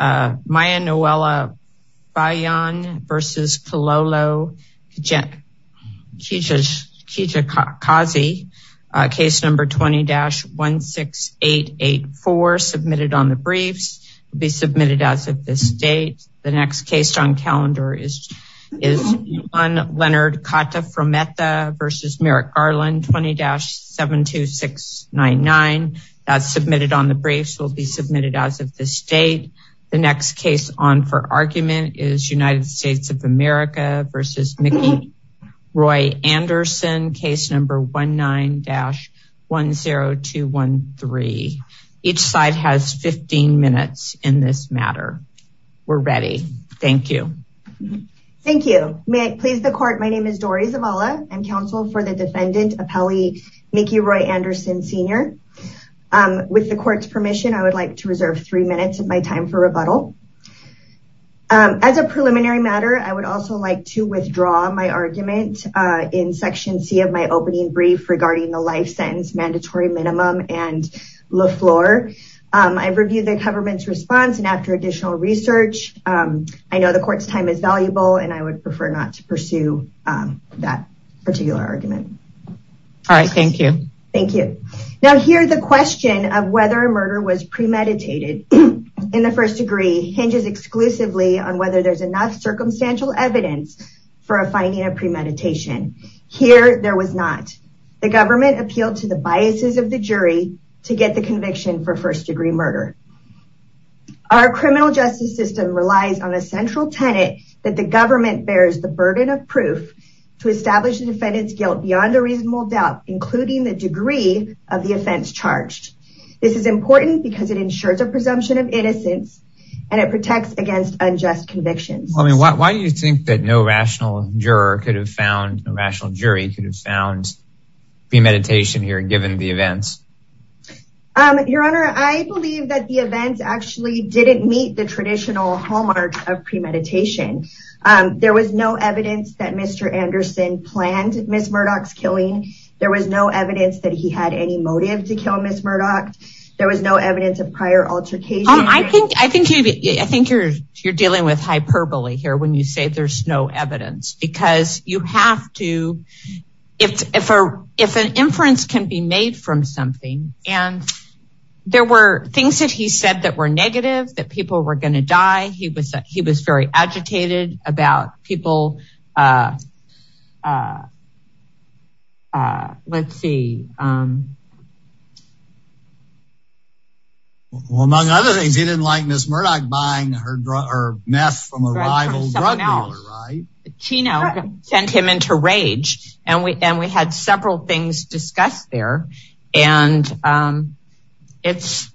Maya Noella Bayan v. Kalolo Kijakazi, case number 20-16884, submitted on the briefs, will be submitted as of this date. The next case on calendar is Leonard Kata Frometa v. Merrick Garland, 20-72699, that's submitted on the briefs, will be submitted as of this date. The next case on for argument is United States of America v. Mickey Roy Anderson, case number 19-10213. Each side has 15 minutes in this matter. We're ready. Thank you. Thank you. May I please the court? My name is Dori Zavala. I'm counsel for the defendant, Mickey Roy Anderson, Sr. With the court's permission, I would like to reserve three minutes of my time for rebuttal. As a preliminary matter, I would also like to withdraw my argument in section C of my opening brief regarding the life sentence mandatory minimum and le floor. I've reviewed the government's response and after additional research, I know the court's time is valuable and I would prefer not to pursue that particular argument. All right. Thank you. Thank you. Now here, the question of whether a murder was premeditated in the first degree hinges exclusively on whether there's enough circumstantial evidence for a finding of premeditation. Here, there was not. The government appealed to the biases of the jury to get the conviction for first degree murder. Our criminal justice system relies on a central tenet that the government bears the burden of proof to establish the defendant's guilt beyond a reasonable doubt, including the degree of the offense charged. This is important because it ensures a presumption of innocence and it protects against unjust convictions. I mean, why do you think that no rational juror could have found, no rational jury could have found premeditation here given the events? Your Honor, I believe that the events actually didn't meet the traditional hallmark of premeditation. There was no evidence that Mr. Anderson planned Ms. Murdoch's killing. There was no evidence that he had any motive to kill Ms. Murdoch. There was no evidence of prior altercation. I think you're dealing with hyperbole here when you say there's no evidence because you have to, if an inference can be made from something and there were things that he said that were negative, that people were going to die, he was very agitated about people. Let's see. Well, among other things, he didn't like Ms. Murdoch buying her meth from a rival drug dealer, right? Chino sent him into rage and we had several things discussed there. And it's,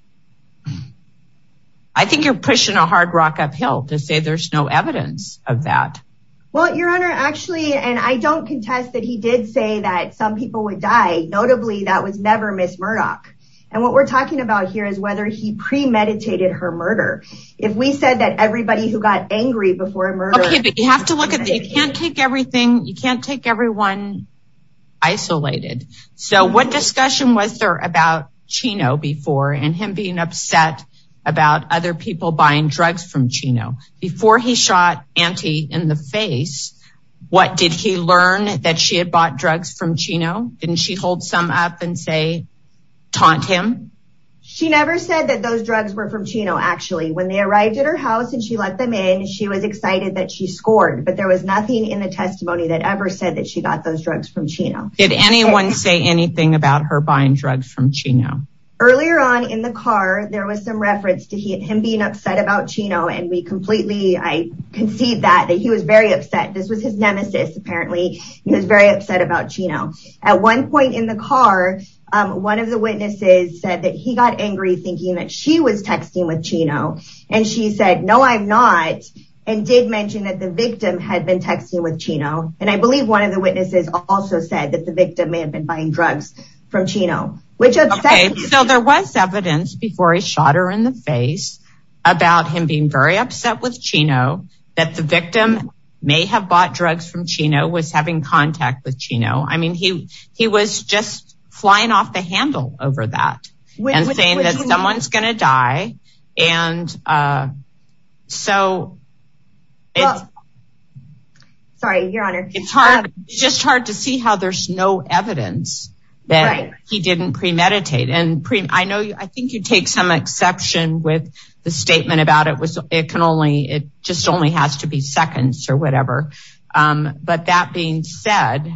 I think you're pushing a hard rock uphill to say there's no evidence of that. Well, Your Honor, actually, and I don't contest that he did say that some people would die. Notably, that was never Ms. Murdoch. And what we're talking about here is whether he premeditated her murder. If we said that everybody who got angry before a murder- Okay, but you have to look at, you can't take everything, you can't take everyone isolated. So what discussion was there about Chino before and him being upset about other people buying drugs from Chino? Before he shot Auntie in the face, what did he learn that she had bought drugs from Chino? Didn't she hold some up and say, taunt him? She never said that those drugs were from Chino, actually. When they arrived at her house and she let them in, she was excited that she scored, but there was nothing in the testimony that ever said that she got those drugs from Chino. Did anyone say anything about her buying drugs from Chino? Earlier on in the car, there was some reference to him being upset about Chino, and we completely, I concede that, that he was very upset. This was his nemesis, apparently. He was very upset about Chino. At one point in the car, one of the witnesses said that he got angry thinking that she was texting with Chino. And she said, no, I'm not, and did mention that the victim had been texting with Chino. And I believe one of the witnesses also said that the victim may have been buying drugs from Chino. Okay, so there was evidence before he shot her in the face about him being very upset with Chino, that the victim may have bought drugs from Chino, was having contact with Chino. I mean, he was just flying off the handle over that and saying that someone's going to die. And so it's hard, it's just hard to see how there's no evidence that he didn't premeditate. And I know, I think you take some exception with the statement about it was, it can only, it just only has to be seconds or whatever. But that being said.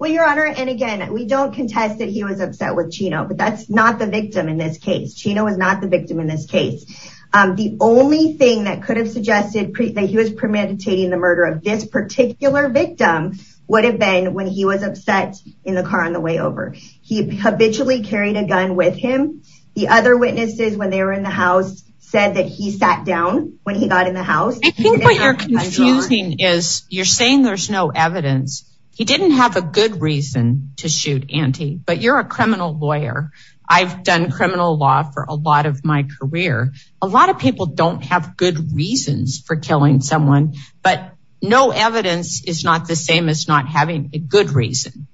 Well, Your Honor, and again, we don't contest that he was upset with Chino, but that's not the victim in this case. Chino was not the victim in this case. The only thing that could have suggested that he was premeditating the murder of this particular victim would have been when he was upset in the car on the way over. He habitually carried a gun with him. The other witnesses when they were in the house said that he sat down when he got in the house. I think what you're confusing is you're saying there's no evidence. He didn't have a good reason to shoot Auntie, but you're a criminal lawyer. I've done criminal law for a lot of my career. A lot of people don't have good reasons for killing someone, but no evidence is not the same as not having a good reason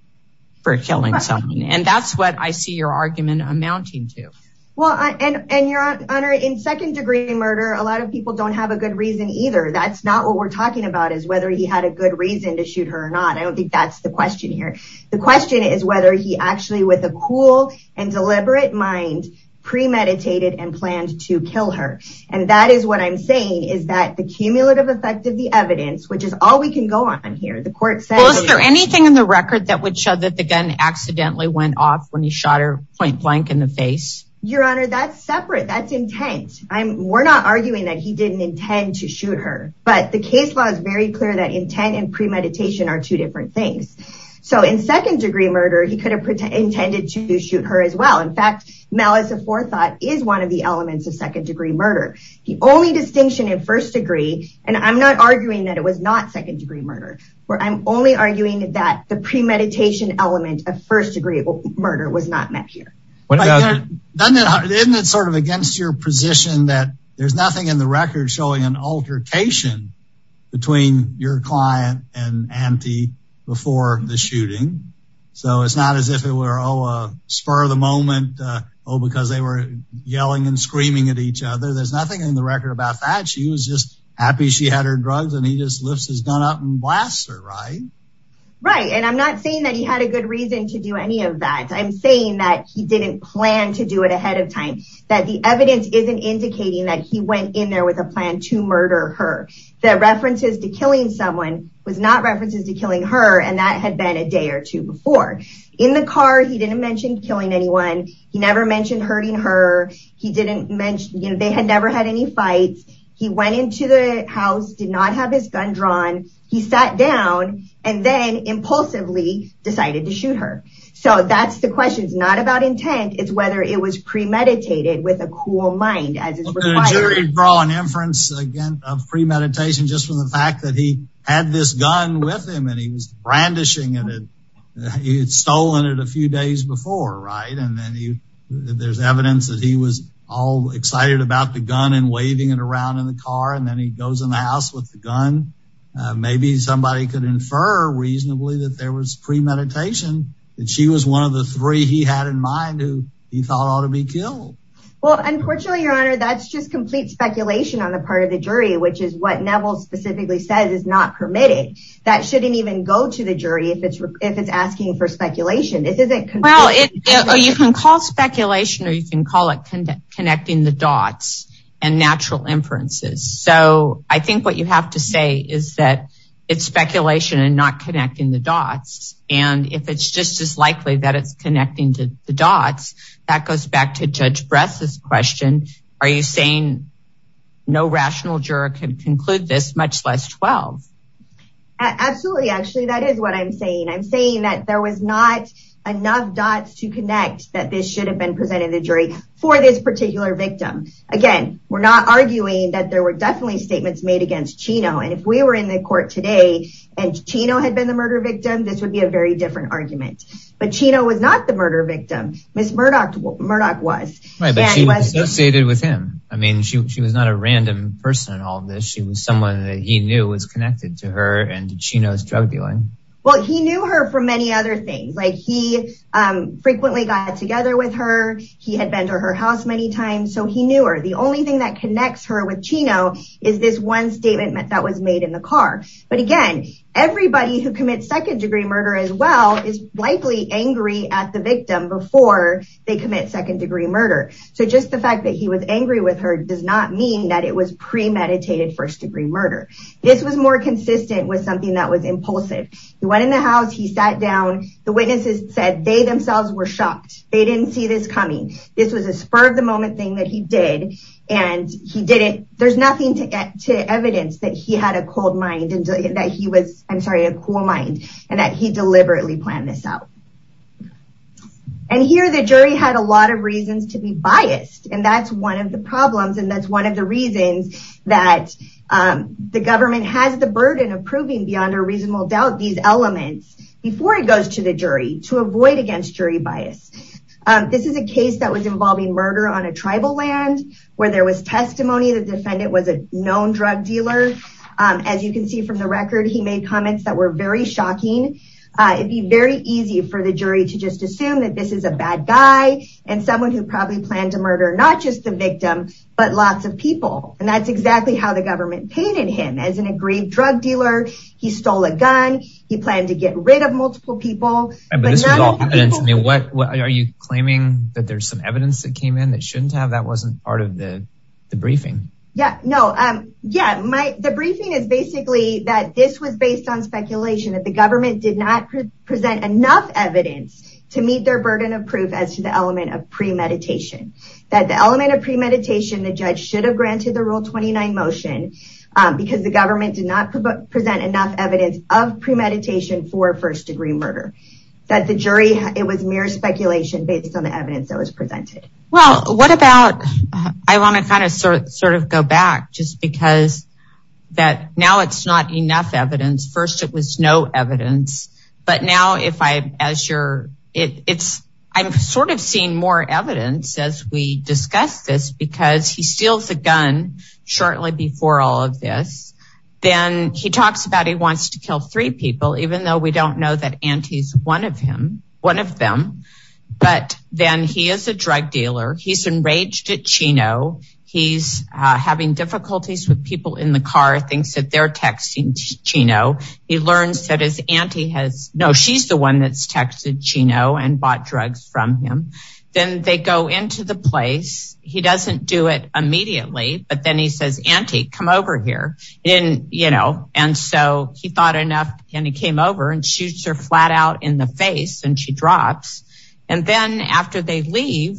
for killing someone. And that's what I see your argument amounting to. Well, and Your Honor, in second degree murder, a lot of people don't have a good reason either. That's not what we're talking about is whether he had a good reason to shoot her or not. I don't think that's the question here. The question is whether he actually with a cool and deliberate mind premeditated and planned to kill her. And that is what I'm saying is that the cumulative effect of the evidence, which is all we can go on here, the court said. Well, is there anything in the record that would show that the gun accidentally went off when he shot her point blank in the face? Your Honor, that's separate. That's intent. We're not arguing that he didn't intend to shoot her. But the case was very clear that intent and premeditation are two different things. So in second degree murder, he could have intended to shoot her as well. In fact, malice of forethought is one of the elements of second degree murder. The only distinction in first degree, and I'm not arguing that it was not second degree murder, or I'm only arguing that the premeditation element of first degree murder was not met here. Isn't it sort of against your position that there's nothing in the record showing an altercation between your client and auntie before the shooting? So it's not as if it were, oh, spur of the moment, oh, because they were yelling and screaming at each other. There's nothing in the record about that. She was just happy she had her drugs and he just lifts his gun up and blasts her, right? Right. And I'm not saying that he had a good reason to do any of that. I'm saying that he didn't plan to do it ahead of time, that the evidence isn't indicating that he went in there with a plan to murder her. The references to killing someone was not references to killing her, and that had been a day or two before. In the car, he didn't mention killing anyone. He never mentioned hurting her. They had never had any fights. He went into the house, did not have his gun drawn. He sat down and then impulsively decided to shoot her. So that's the question. It's not about intent. It's whether it was premeditated with a cool mind, as is required. Could a jury draw an inference, again, of premeditation just from the fact that he had this gun with him and he was brandishing it? He had stolen it a few days before, right? And then there's evidence that he was all excited about the gun and waving it around in the car. And then he goes in the house with the gun. Maybe somebody could infer reasonably that there was premeditation, that she was one of the three he had in mind who he thought ought to be killed. Well, unfortunately, Your Honor, that's just complete speculation on the part of the jury, which is what Neville specifically says is not permitted. That shouldn't even go to the jury if it's asking for speculation. This isn't- Well, you can call speculation or you can call it connecting the dots and natural inferences. So I think what you have to say is that it's speculation and not connecting the dots. And if it's just as likely that it's connecting to the dots, that goes back to Judge Bress's question. Are you saying no rational juror can conclude this, much less 12? Absolutely. Actually, that is what I'm saying. I'm saying that there was not enough dots to connect that this should have been presented to the jury for this particular victim. Again, we're not arguing that there were definitely statements made against Chino. And if we were in the court today and Chino had been the murder victim, this would be a very different argument. But Chino was not the murder victim. Ms. Murdoch was. Right, but she was associated with him. I mean, she was not a random person in all of this. She was someone that he knew was connected to her and to Chino's drug dealing. Well, he knew her for many other things. He frequently got together with her. He had been her house many times, so he knew her. The only thing that connects her with Chino is this one statement that was made in the car. But again, everybody who commits second degree murder as well is likely angry at the victim before they commit second degree murder. So just the fact that he was angry with her does not mean that it was premeditated first degree murder. This was more consistent with something that was impulsive. He went in the house. He sat down. The witnesses said they themselves were shocked. They didn't see this coming. This was a spur of the moment thing that he did. And he did it. There's nothing to evidence that he had a cold mind and that he was, I'm sorry, a cool mind and that he deliberately planned this out. And here the jury had a lot of reasons to be biased. And that's one of the problems. And that's one of the reasons that the government has the burden of proving beyond a reasonable doubt these elements before it goes to the jury to avoid against jury bias. This is a case that was involving murder on a tribal land where there was testimony. The defendant was a known drug dealer. As you can see from the record, he made comments that were very shocking. It'd be very easy for the jury to just assume that this is a bad guy and someone who probably planned to murder not just the victim, but lots of people. And that's exactly how the government painted him as an aggrieved drug dealer. He stole a gun. He planned to get rid of multiple people. Are you claiming that there's some evidence that came in that shouldn't have, that wasn't part of the briefing? Yeah. No. Yeah. The briefing is basically that this was based on speculation that the government did not present enough evidence to meet their burden of proof as to the element of premeditation. That the element of premeditation, the judge should have granted the motion because the government did not present enough evidence of premeditation for first degree murder. That the jury, it was mere speculation based on the evidence that was presented. Well, what about, I want to kind of sort of go back just because that now it's not enough evidence. First it was no evidence, but now if I, as you're, it it's, I'm sort of seeing more shortly before all of this, then he talks about, he wants to kill three people, even though we don't know that auntie's one of him, one of them, but then he is a drug dealer. He's enraged at Chino. He's having difficulties with people in the car, thinks that they're texting Chino. He learns that his auntie has no, she's the one that's texted Chino and bought drugs from him. Then they go into the place. He doesn't do it immediately, but then he says, auntie, come over here in, you know, and so he thought enough and he came over and shoots her flat out in the face and she drops. And then after they leave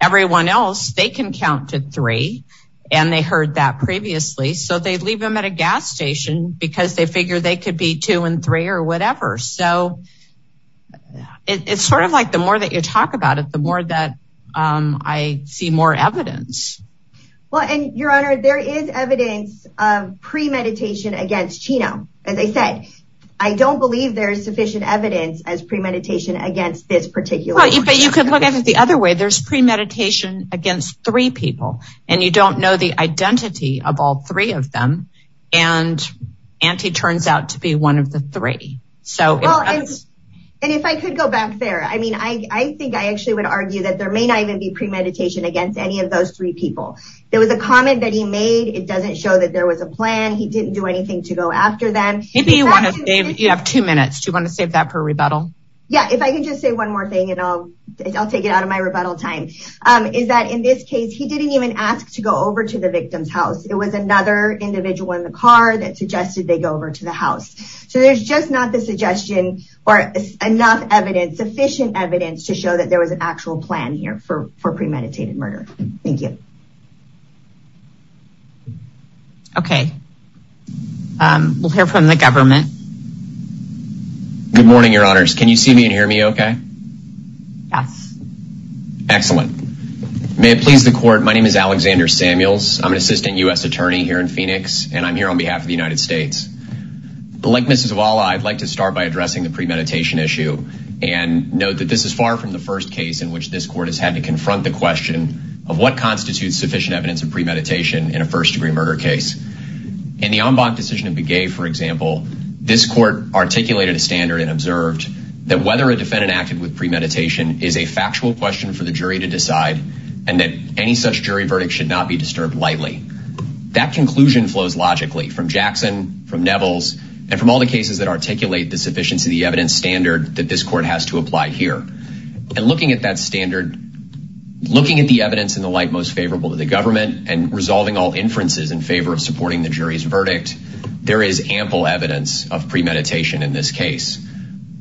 everyone else, they can count to three and they heard that previously. So they leave them at a gas station because they figure they could be two and three or whatever. So it's sort of like the more that you talk about it, the more that I see more evidence. Well, and your honor, there is evidence of premeditation against Chino. As I said, I don't believe there's sufficient evidence as premeditation against this particular, but you could look at it the other way. There's premeditation against three people and you don't know the identity of all three of them. And auntie turns out to be one of the three. So, and if I could go back there, I mean, I think I actually would argue that there may not even be premeditation against any of those three people. There was a comment that he made. It doesn't show that there was a plan. He didn't do anything to go after them. You have two minutes. Do you want to save that for rebuttal? Yeah. If I can just say one more thing and I'll take it out of my time. Is that in this case, he didn't even ask to go over to the victim's house. It was another individual in the car that suggested they go over to the house. So there's just not the suggestion or enough evidence, sufficient evidence to show that there was an actual plan here for for premeditated murder. Thank you. Okay. We'll hear from the government. Good morning, your honors. Can you see me and hear me? Okay. Yes. Excellent. May it please the court. My name is Alexander Samuels. I'm an assistant U.S. attorney here in Phoenix, and I'm here on behalf of the United States. But like Mrs. Vala, I'd like to start by addressing the premeditation issue and note that this is far from the first case in which this court has had to confront the question of what constitutes sufficient evidence of premeditation in a first example, this court articulated a standard and observed that whether a defendant acted with premeditation is a factual question for the jury to decide. And that any such jury verdict should not be disturbed lightly. That conclusion flows logically from Jackson, from Nevels, and from all the cases that articulate the sufficiency of the evidence standard that this court has to apply here. And looking at that standard, looking at the evidence in the light most favorable to the government and resolving all inferences in favor of supporting the jury's verdict, there is ample evidence of premeditation in this case.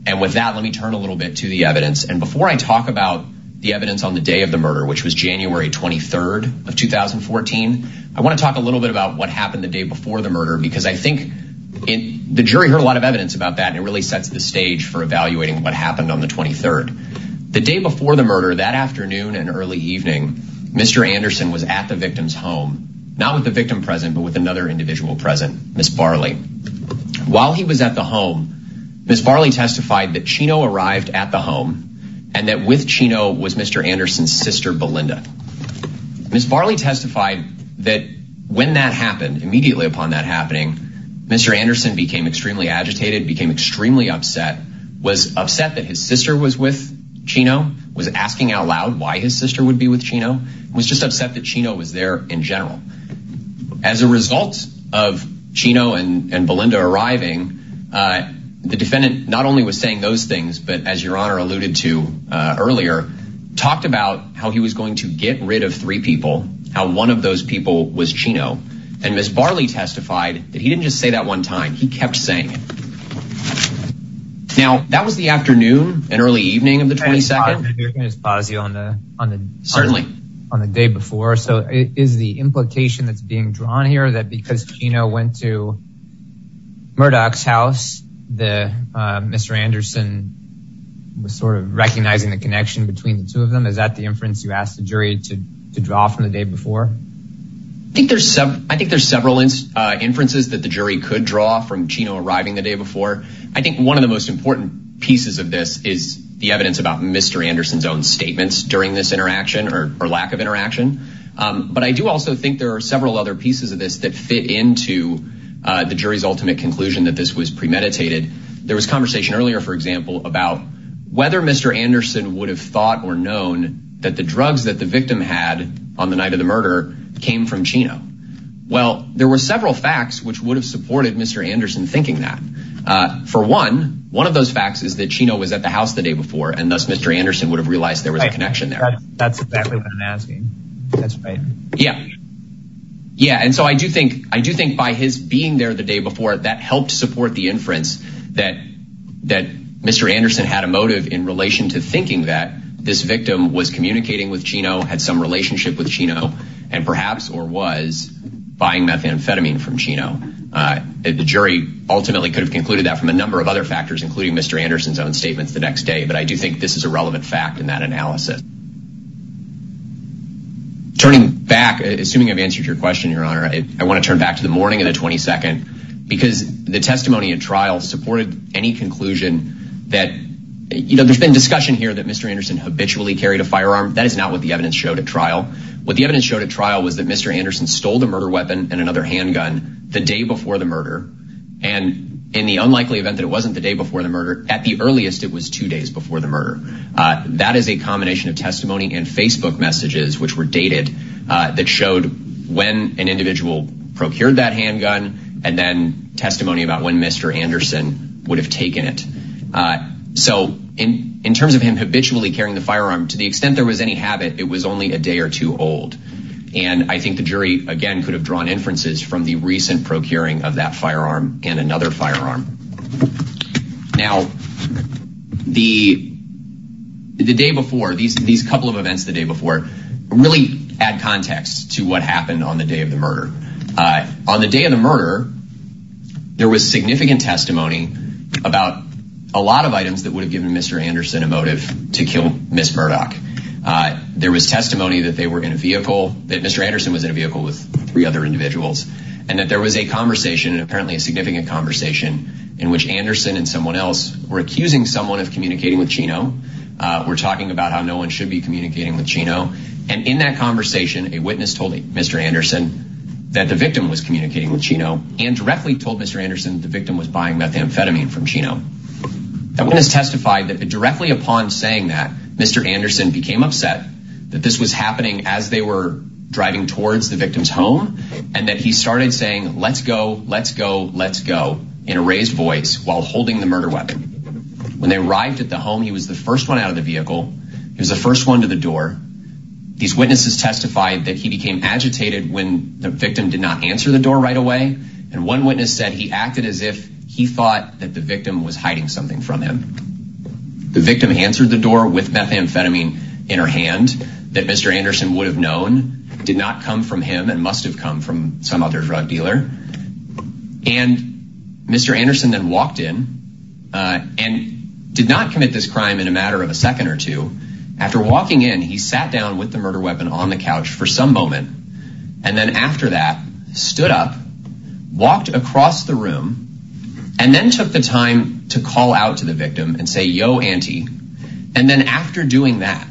And with that, let me turn a little bit to the evidence. And before I talk about the evidence on the day of the murder, which was January 23rd of 2014, I want to talk a little bit about what happened the day before the murder, because I think the jury heard a lot of evidence about that. And it really sets the stage for evaluating what happened on the 23rd. The day before the murder that afternoon and early evening, Mr. Anderson was at the victim's home, not with the victim present, but with another individual present, Ms. Barley. While he was at the home, Ms. Barley testified that Chino arrived at the home and that with Chino was Mr. Anderson's sister, Belinda. Ms. Barley testified that when that happened, immediately upon that happening, Mr. Anderson became extremely agitated, became extremely upset, was upset that his sister was with Chino, was asking out loud why his sister would be with Chino, was just upset that Chino was there in general. As a result of Chino and Belinda arriving, the defendant not only was saying those things, but as Your Honor alluded to earlier, talked about how he was going to get rid of three people, how one of those people was Chino. And Ms. Barley testified that he didn't just say that one time, he kept saying it. Now, that was the afternoon and early evening of the Is the implication that's being drawn here that because Chino went to Murdoch's house, Mr. Anderson was sort of recognizing the connection between the two of them? Is that the inference you asked the jury to draw from the day before? I think there's several inferences that the jury could draw from Chino arriving the day before. I think one of the most important pieces of this is the evidence about Mr. Anderson's own statements during this interaction or lack of interaction. But I do also think there are several other pieces of this that fit into the jury's ultimate conclusion that this was premeditated. There was conversation earlier, for example, about whether Mr. Anderson would have thought or known that the drugs that the victim had on the night of the murder came from Chino. Well, there were several facts which would have supported Mr. Anderson thinking that. For one, one of those facts is that Chino was at the That's exactly what I'm asking. That's right. Yeah. Yeah. And so I do think I do think by his being there the day before that helped support the inference that that Mr. Anderson had a motive in relation to thinking that this victim was communicating with Chino, had some relationship with Chino, and perhaps or was buying methamphetamine from Chino. The jury ultimately could have concluded that from a number of other factors, including Mr. Anderson's own statements the next day. But I do think this is a relevant fact in that analysis. Turning back, assuming I've answered your question, Your Honor, I want to turn back to the morning of the 22nd, because the testimony at trial supported any conclusion that, you know, there's been discussion here that Mr. Anderson habitually carried a firearm. That is not what the evidence showed at trial. What the evidence showed at trial was that Mr. Anderson stole the murder weapon and another handgun the day before the murder. And in the unlikely event that it wasn't the day before the murder, at the earliest, it was two days before the murder. That is a combination of testimony and Facebook messages, which were dated, that showed when an individual procured that handgun and then testimony about when Mr. Anderson would have taken it. So in terms of him habitually carrying the firearm, to the extent there was any habit, it was only a day or two old. And I think the jury, again, could have drawn inferences from the recent procuring of that firearm and another firearm. Now, the day before these couple of events the day before really add context to what happened on the day of the murder. On the day of the murder, there was significant testimony about a lot of items that would have given Mr. Anderson a motive to kill Ms. Murdoch. There was testimony that they were in a vehicle, that Mr. Anderson was in a vehicle with three other individuals, and that there was a conversation, apparently a significant conversation, in which Anderson and someone else were accusing someone of communicating with Chino. We're talking about how no one should be communicating with Chino. And in that conversation, a witness told Mr. Anderson that the victim was communicating with Chino and directly told Mr. Anderson the victim was buying methamphetamine from Chino. That witness testified that directly upon saying that, Mr. Anderson became upset that this was driving towards the victim's home, and that he started saying, let's go, let's go, let's go in a raised voice while holding the murder weapon. When they arrived at the home, he was the first one out of the vehicle. He was the first one to the door. These witnesses testified that he became agitated when the victim did not answer the door right away. And one witness said he acted as if he thought that the victim was hiding something from him. The victim answered the door with methamphetamine in her hand that Mr. Anderson would have known did not come from him and must have come from some other drug dealer. And Mr. Anderson then walked in and did not commit this crime in a matter of a second or two. After walking in, he sat down with the murder weapon on the couch for some moment. And then after that, stood up, walked across the room, and then took the time to call out to the victim and say, yo, auntie. And then after doing that,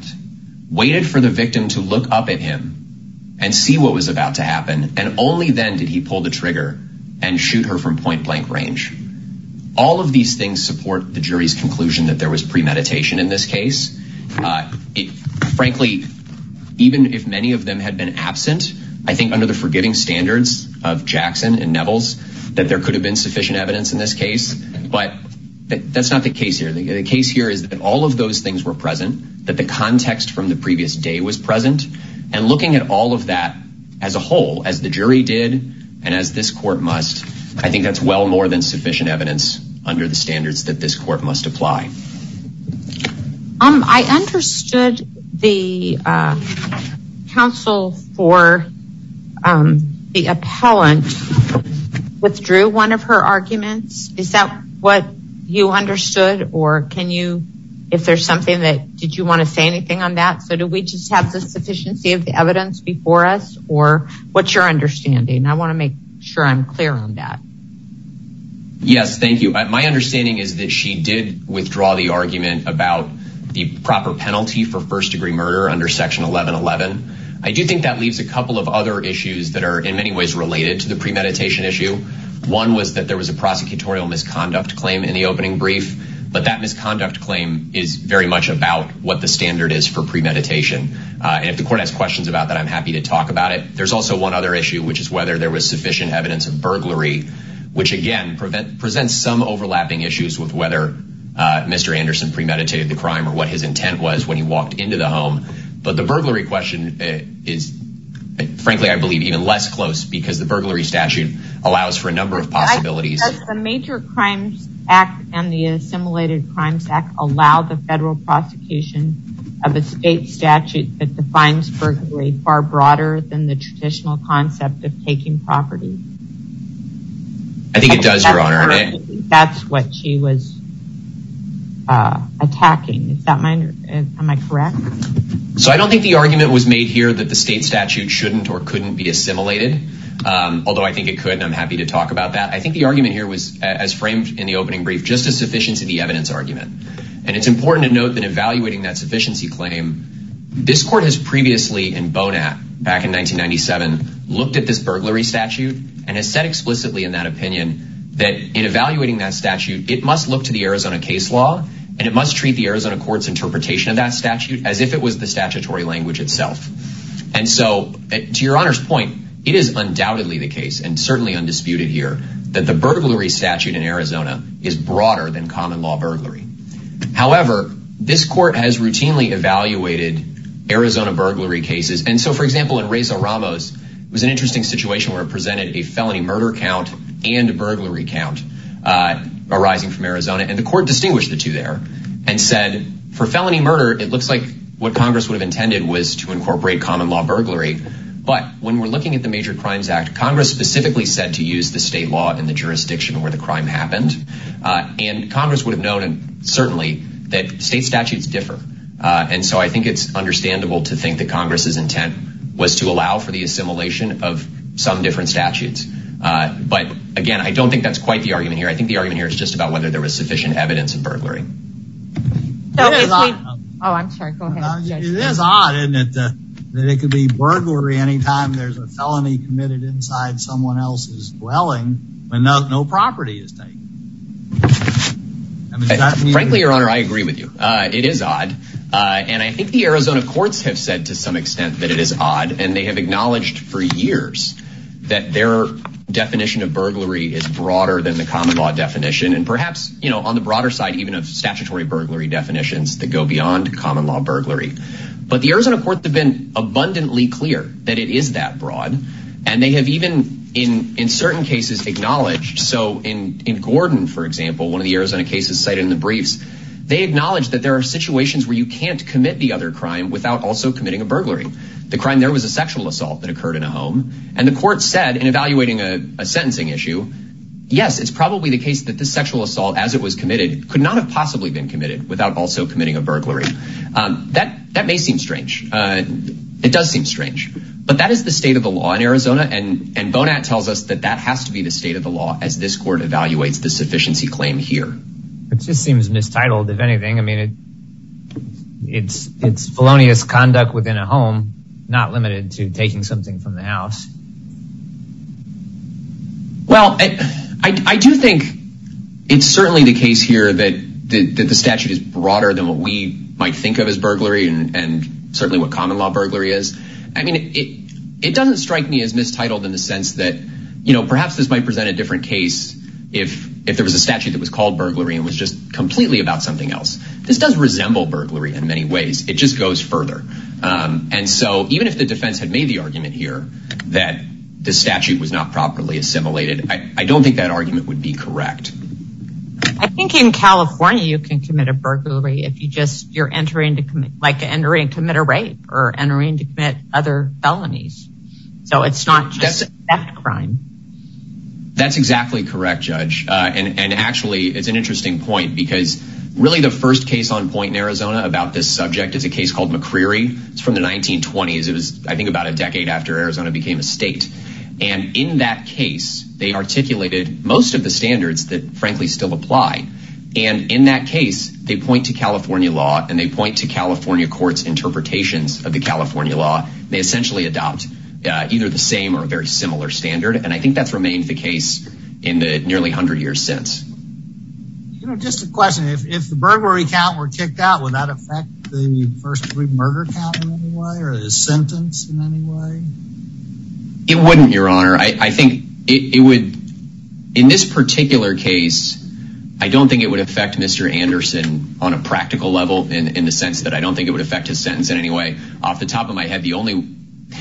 waited for the victim to look up at him and see what was about to happen. And only then did he pull the trigger and shoot her from point blank range. All of these things support the jury's conclusion that there was premeditation in this case. Frankly, even if many of them had been absent, I think under the forgiving standards of Jackson and Nevels, that there could have been sufficient evidence in this but that's not the case here. The case here is that all of those things were present, that the context from the previous day was present, and looking at all of that as a whole, as the jury did, and as this court must, I think that's well more than sufficient evidence under the standards that this court must apply. I understood the counsel for the appellant withdrew one of her arguments. Is that what you understood? Or can you, if there's something that did you want to say anything on that? So do we just have the sufficiency of the evidence before us? Or what's your understanding? I want to make sure I'm clear on that. Yes, thank you. My understanding is that she did withdraw the argument about the proper penalty for first degree murder under section 1111. I do think that leaves a couple of other issues that are in many ways related to the premeditation issue. One was that there was a prosecutorial misconduct claim in the opening brief, but that misconduct claim is very much about what the standard is for premeditation. If the court has questions about that, I'm happy to talk about it. There's also one other issue, which is whether there was sufficient evidence of burglary, which again presents some overlapping issues with whether Mr. Anderson premeditated the crime or what his intent was when he walked into the home. But the burglary question is frankly, I believe even less close because the burglary statute allows for a number of possibilities. Does the Major Crimes Act and the Assimilated Crimes Act allow the federal prosecution of a state statute that defines burglary far broader than the traditional concept of taking property? I think it does, Your Honor. That's what she was attacking. Am I correct? So I don't think the argument was made here that the state statute shouldn't or couldn't be assimilated, although I think it could and I'm happy to talk about that. I think the argument here was as framed in the opening brief, just a sufficiency of the evidence argument. And it's important to note that evaluating that sufficiency claim, this court has previously in Bonat back in 1997 looked at this burglary statute and has explicitly in that opinion that in evaluating that statute, it must look to the Arizona case law and it must treat the Arizona court's interpretation of that statute as if it was the statutory language itself. And so to Your Honor's point, it is undoubtedly the case and certainly undisputed here that the burglary statute in Arizona is broader than common law burglary. However, this court has routinely evaluated Arizona burglary cases. And so for example, in Reza Ramos, it was an interesting situation where it presented a felony murder count and a burglary count arising from Arizona. And the court distinguished the two there and said for felony murder, it looks like what Congress would have intended was to incorporate common law burglary. But when we're looking at the Major Crimes Act, Congress specifically said to use the state law in the jurisdiction where the crime happened. And Congress would have known, and certainly that state statutes differ. And so I think it's understandable to think that Congress's to allow for the assimilation of some different statutes. But again, I don't think that's quite the argument here. I think the argument here is just about whether there was sufficient evidence of burglary. It is odd that it could be burglary anytime there's a felony committed inside someone else's dwelling when no property is taken. Frankly, Your Honor, I agree with you. It is odd and they have acknowledged for years that their definition of burglary is broader than the common law definition. And perhaps on the broader side even of statutory burglary definitions that go beyond common law burglary. But the Arizona courts have been abundantly clear that it is that broad. And they have even in certain cases acknowledged. So in Gordon, for example, one of the Arizona cases cited in the briefs, they acknowledge that there are situations where you can't commit the other crime without also committing a burglary. The crime there was a sexual assault that occurred in a home. And the court said in evaluating a sentencing issue, yes, it's probably the case that the sexual assault as it was committed could not have possibly been committed without also committing a burglary. That may seem strange. It does seem strange. But that is the state of the law in Arizona. And Bonat tells us that that has to be the state of the law as this court evaluates the sufficiency claim here. It just seems mistitled, if anything. I mean, it's felonious conduct within a home not limited to taking something from the house. Well, I do think it's certainly the case here that the statute is broader than what we might think of as burglary and certainly what common law burglary is. I mean, it doesn't strike me as mistitled in the sense that perhaps this might present a different case if there was statute that was called burglary and was just completely about something else. This does resemble burglary in many ways. It just goes further. And so even if the defense had made the argument here that the statute was not properly assimilated, I don't think that argument would be correct. I think in California, you can commit a burglary if you just you're entering to commit like entering to commit a rape or entering to commit other felonies. So it's not crime. That's exactly correct, Judge. And actually, it's an interesting point because really the first case on point in Arizona about this subject is a case called McCreary. It's from the 1920s. It was, I think, about a decade after Arizona became a state. And in that case, they articulated most of the standards that frankly still apply. And in that case, they point to California law and they point to California courts interpretations of the similar standard. And I think that's remained the case in the nearly 100 years since. You know, just a question. If the burglary count were kicked out, would that affect the first murder count in any way or the sentence in any way? It wouldn't, Your Honor. I think it would. In this particular case, I don't think it would affect Mr. Anderson on a practical level in the sense that I don't think it would affect his sentence in any way. Off the top of my head, the only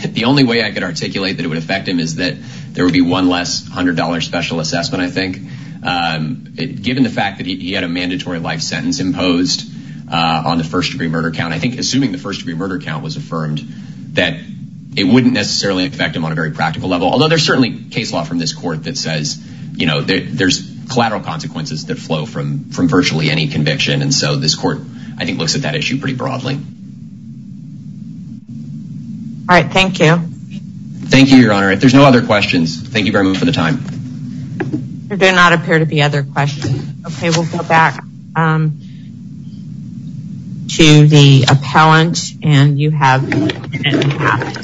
the only way I could articulate that it would affect him is that there would be one less $100 special assessment, I think, given the fact that he had a mandatory life sentence imposed on the first degree murder count. I think assuming the first degree murder count was affirmed, that it wouldn't necessarily affect him on a very practical level. Although there's certainly case law from this court that says, you know, there's collateral consequences that flow from virtually any conviction. And so this court, I think, looks at that issue pretty broadly. All right. Thank you. Thank you, Your Honor. If there's no other questions, thank you very much for the time. There do not appear to be other questions. Okay, we'll go back to the appellant and you have Thank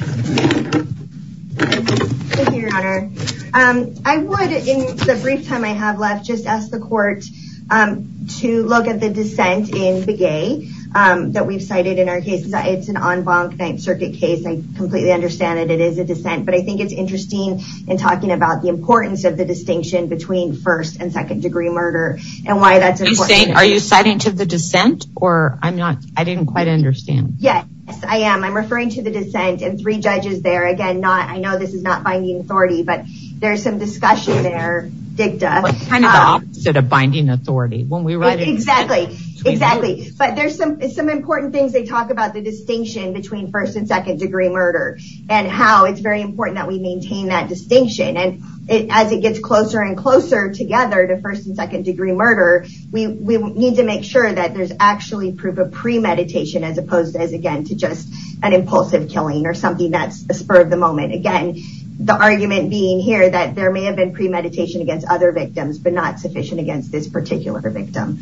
you, Your Honor. I would, in the brief time I have left, just ask the court to look at the dissent in Begay that we've cited in our case. It's an en banc Ninth Circuit case. I completely understand that it is a dissent, but I think it's interesting in talking about the importance of the distinction between first and second degree murder and why that's important. Are you citing to the dissent or I'm not, I didn't quite understand. Yes, I am. I'm referring to the dissent and three judges there. Again, not, I know this is not binding authority, but there's some discussion there, Dicta. It's kind of the opposite of binding authority. Exactly, exactly. But there's some important things they talk about the distinction between first and second degree murder and how it's very important that we maintain that distinction. And as it gets closer and closer together to first and second degree murder, we need to make sure that there's actually proof of premeditation, as opposed as again, to just an impulsive killing or something that's a spur of the moment. Again, the argument being here that there may have been premeditation against other victims, but not sufficient against this particular victim.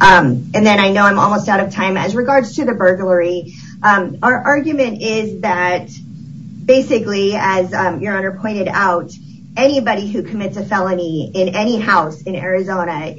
And then I know I'm almost out of time. As regards to the burglary, our argument is that basically, as your honor pointed out, anybody who commits a felony in any house in Arizona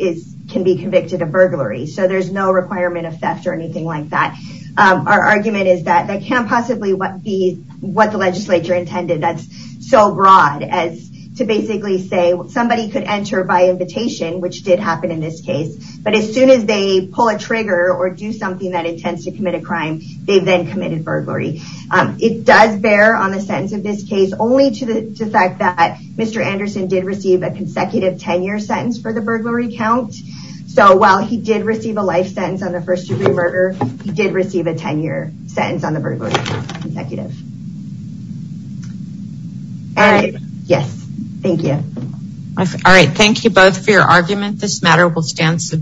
can be convicted of burglary. So there's no requirement of theft or anything like that. Our argument is that that can't possibly be what the legislature intended. That's so broad as to basically say somebody could enter by invitation, which did happen in this case. But as soon as they pull a trigger or do something that intends to commit a crime, they've then committed burglary. It does bear on the sentence of this case only to the fact that Mr. Anderson did receive a consecutive 10-year sentence for the burglary count. So while he did receive a life sentence on the first degree murder, he did receive a 10-year sentence on the burglary count, consecutive. All right. Yes. Thank you. All right. Thank you both for your argument. This matter will stand.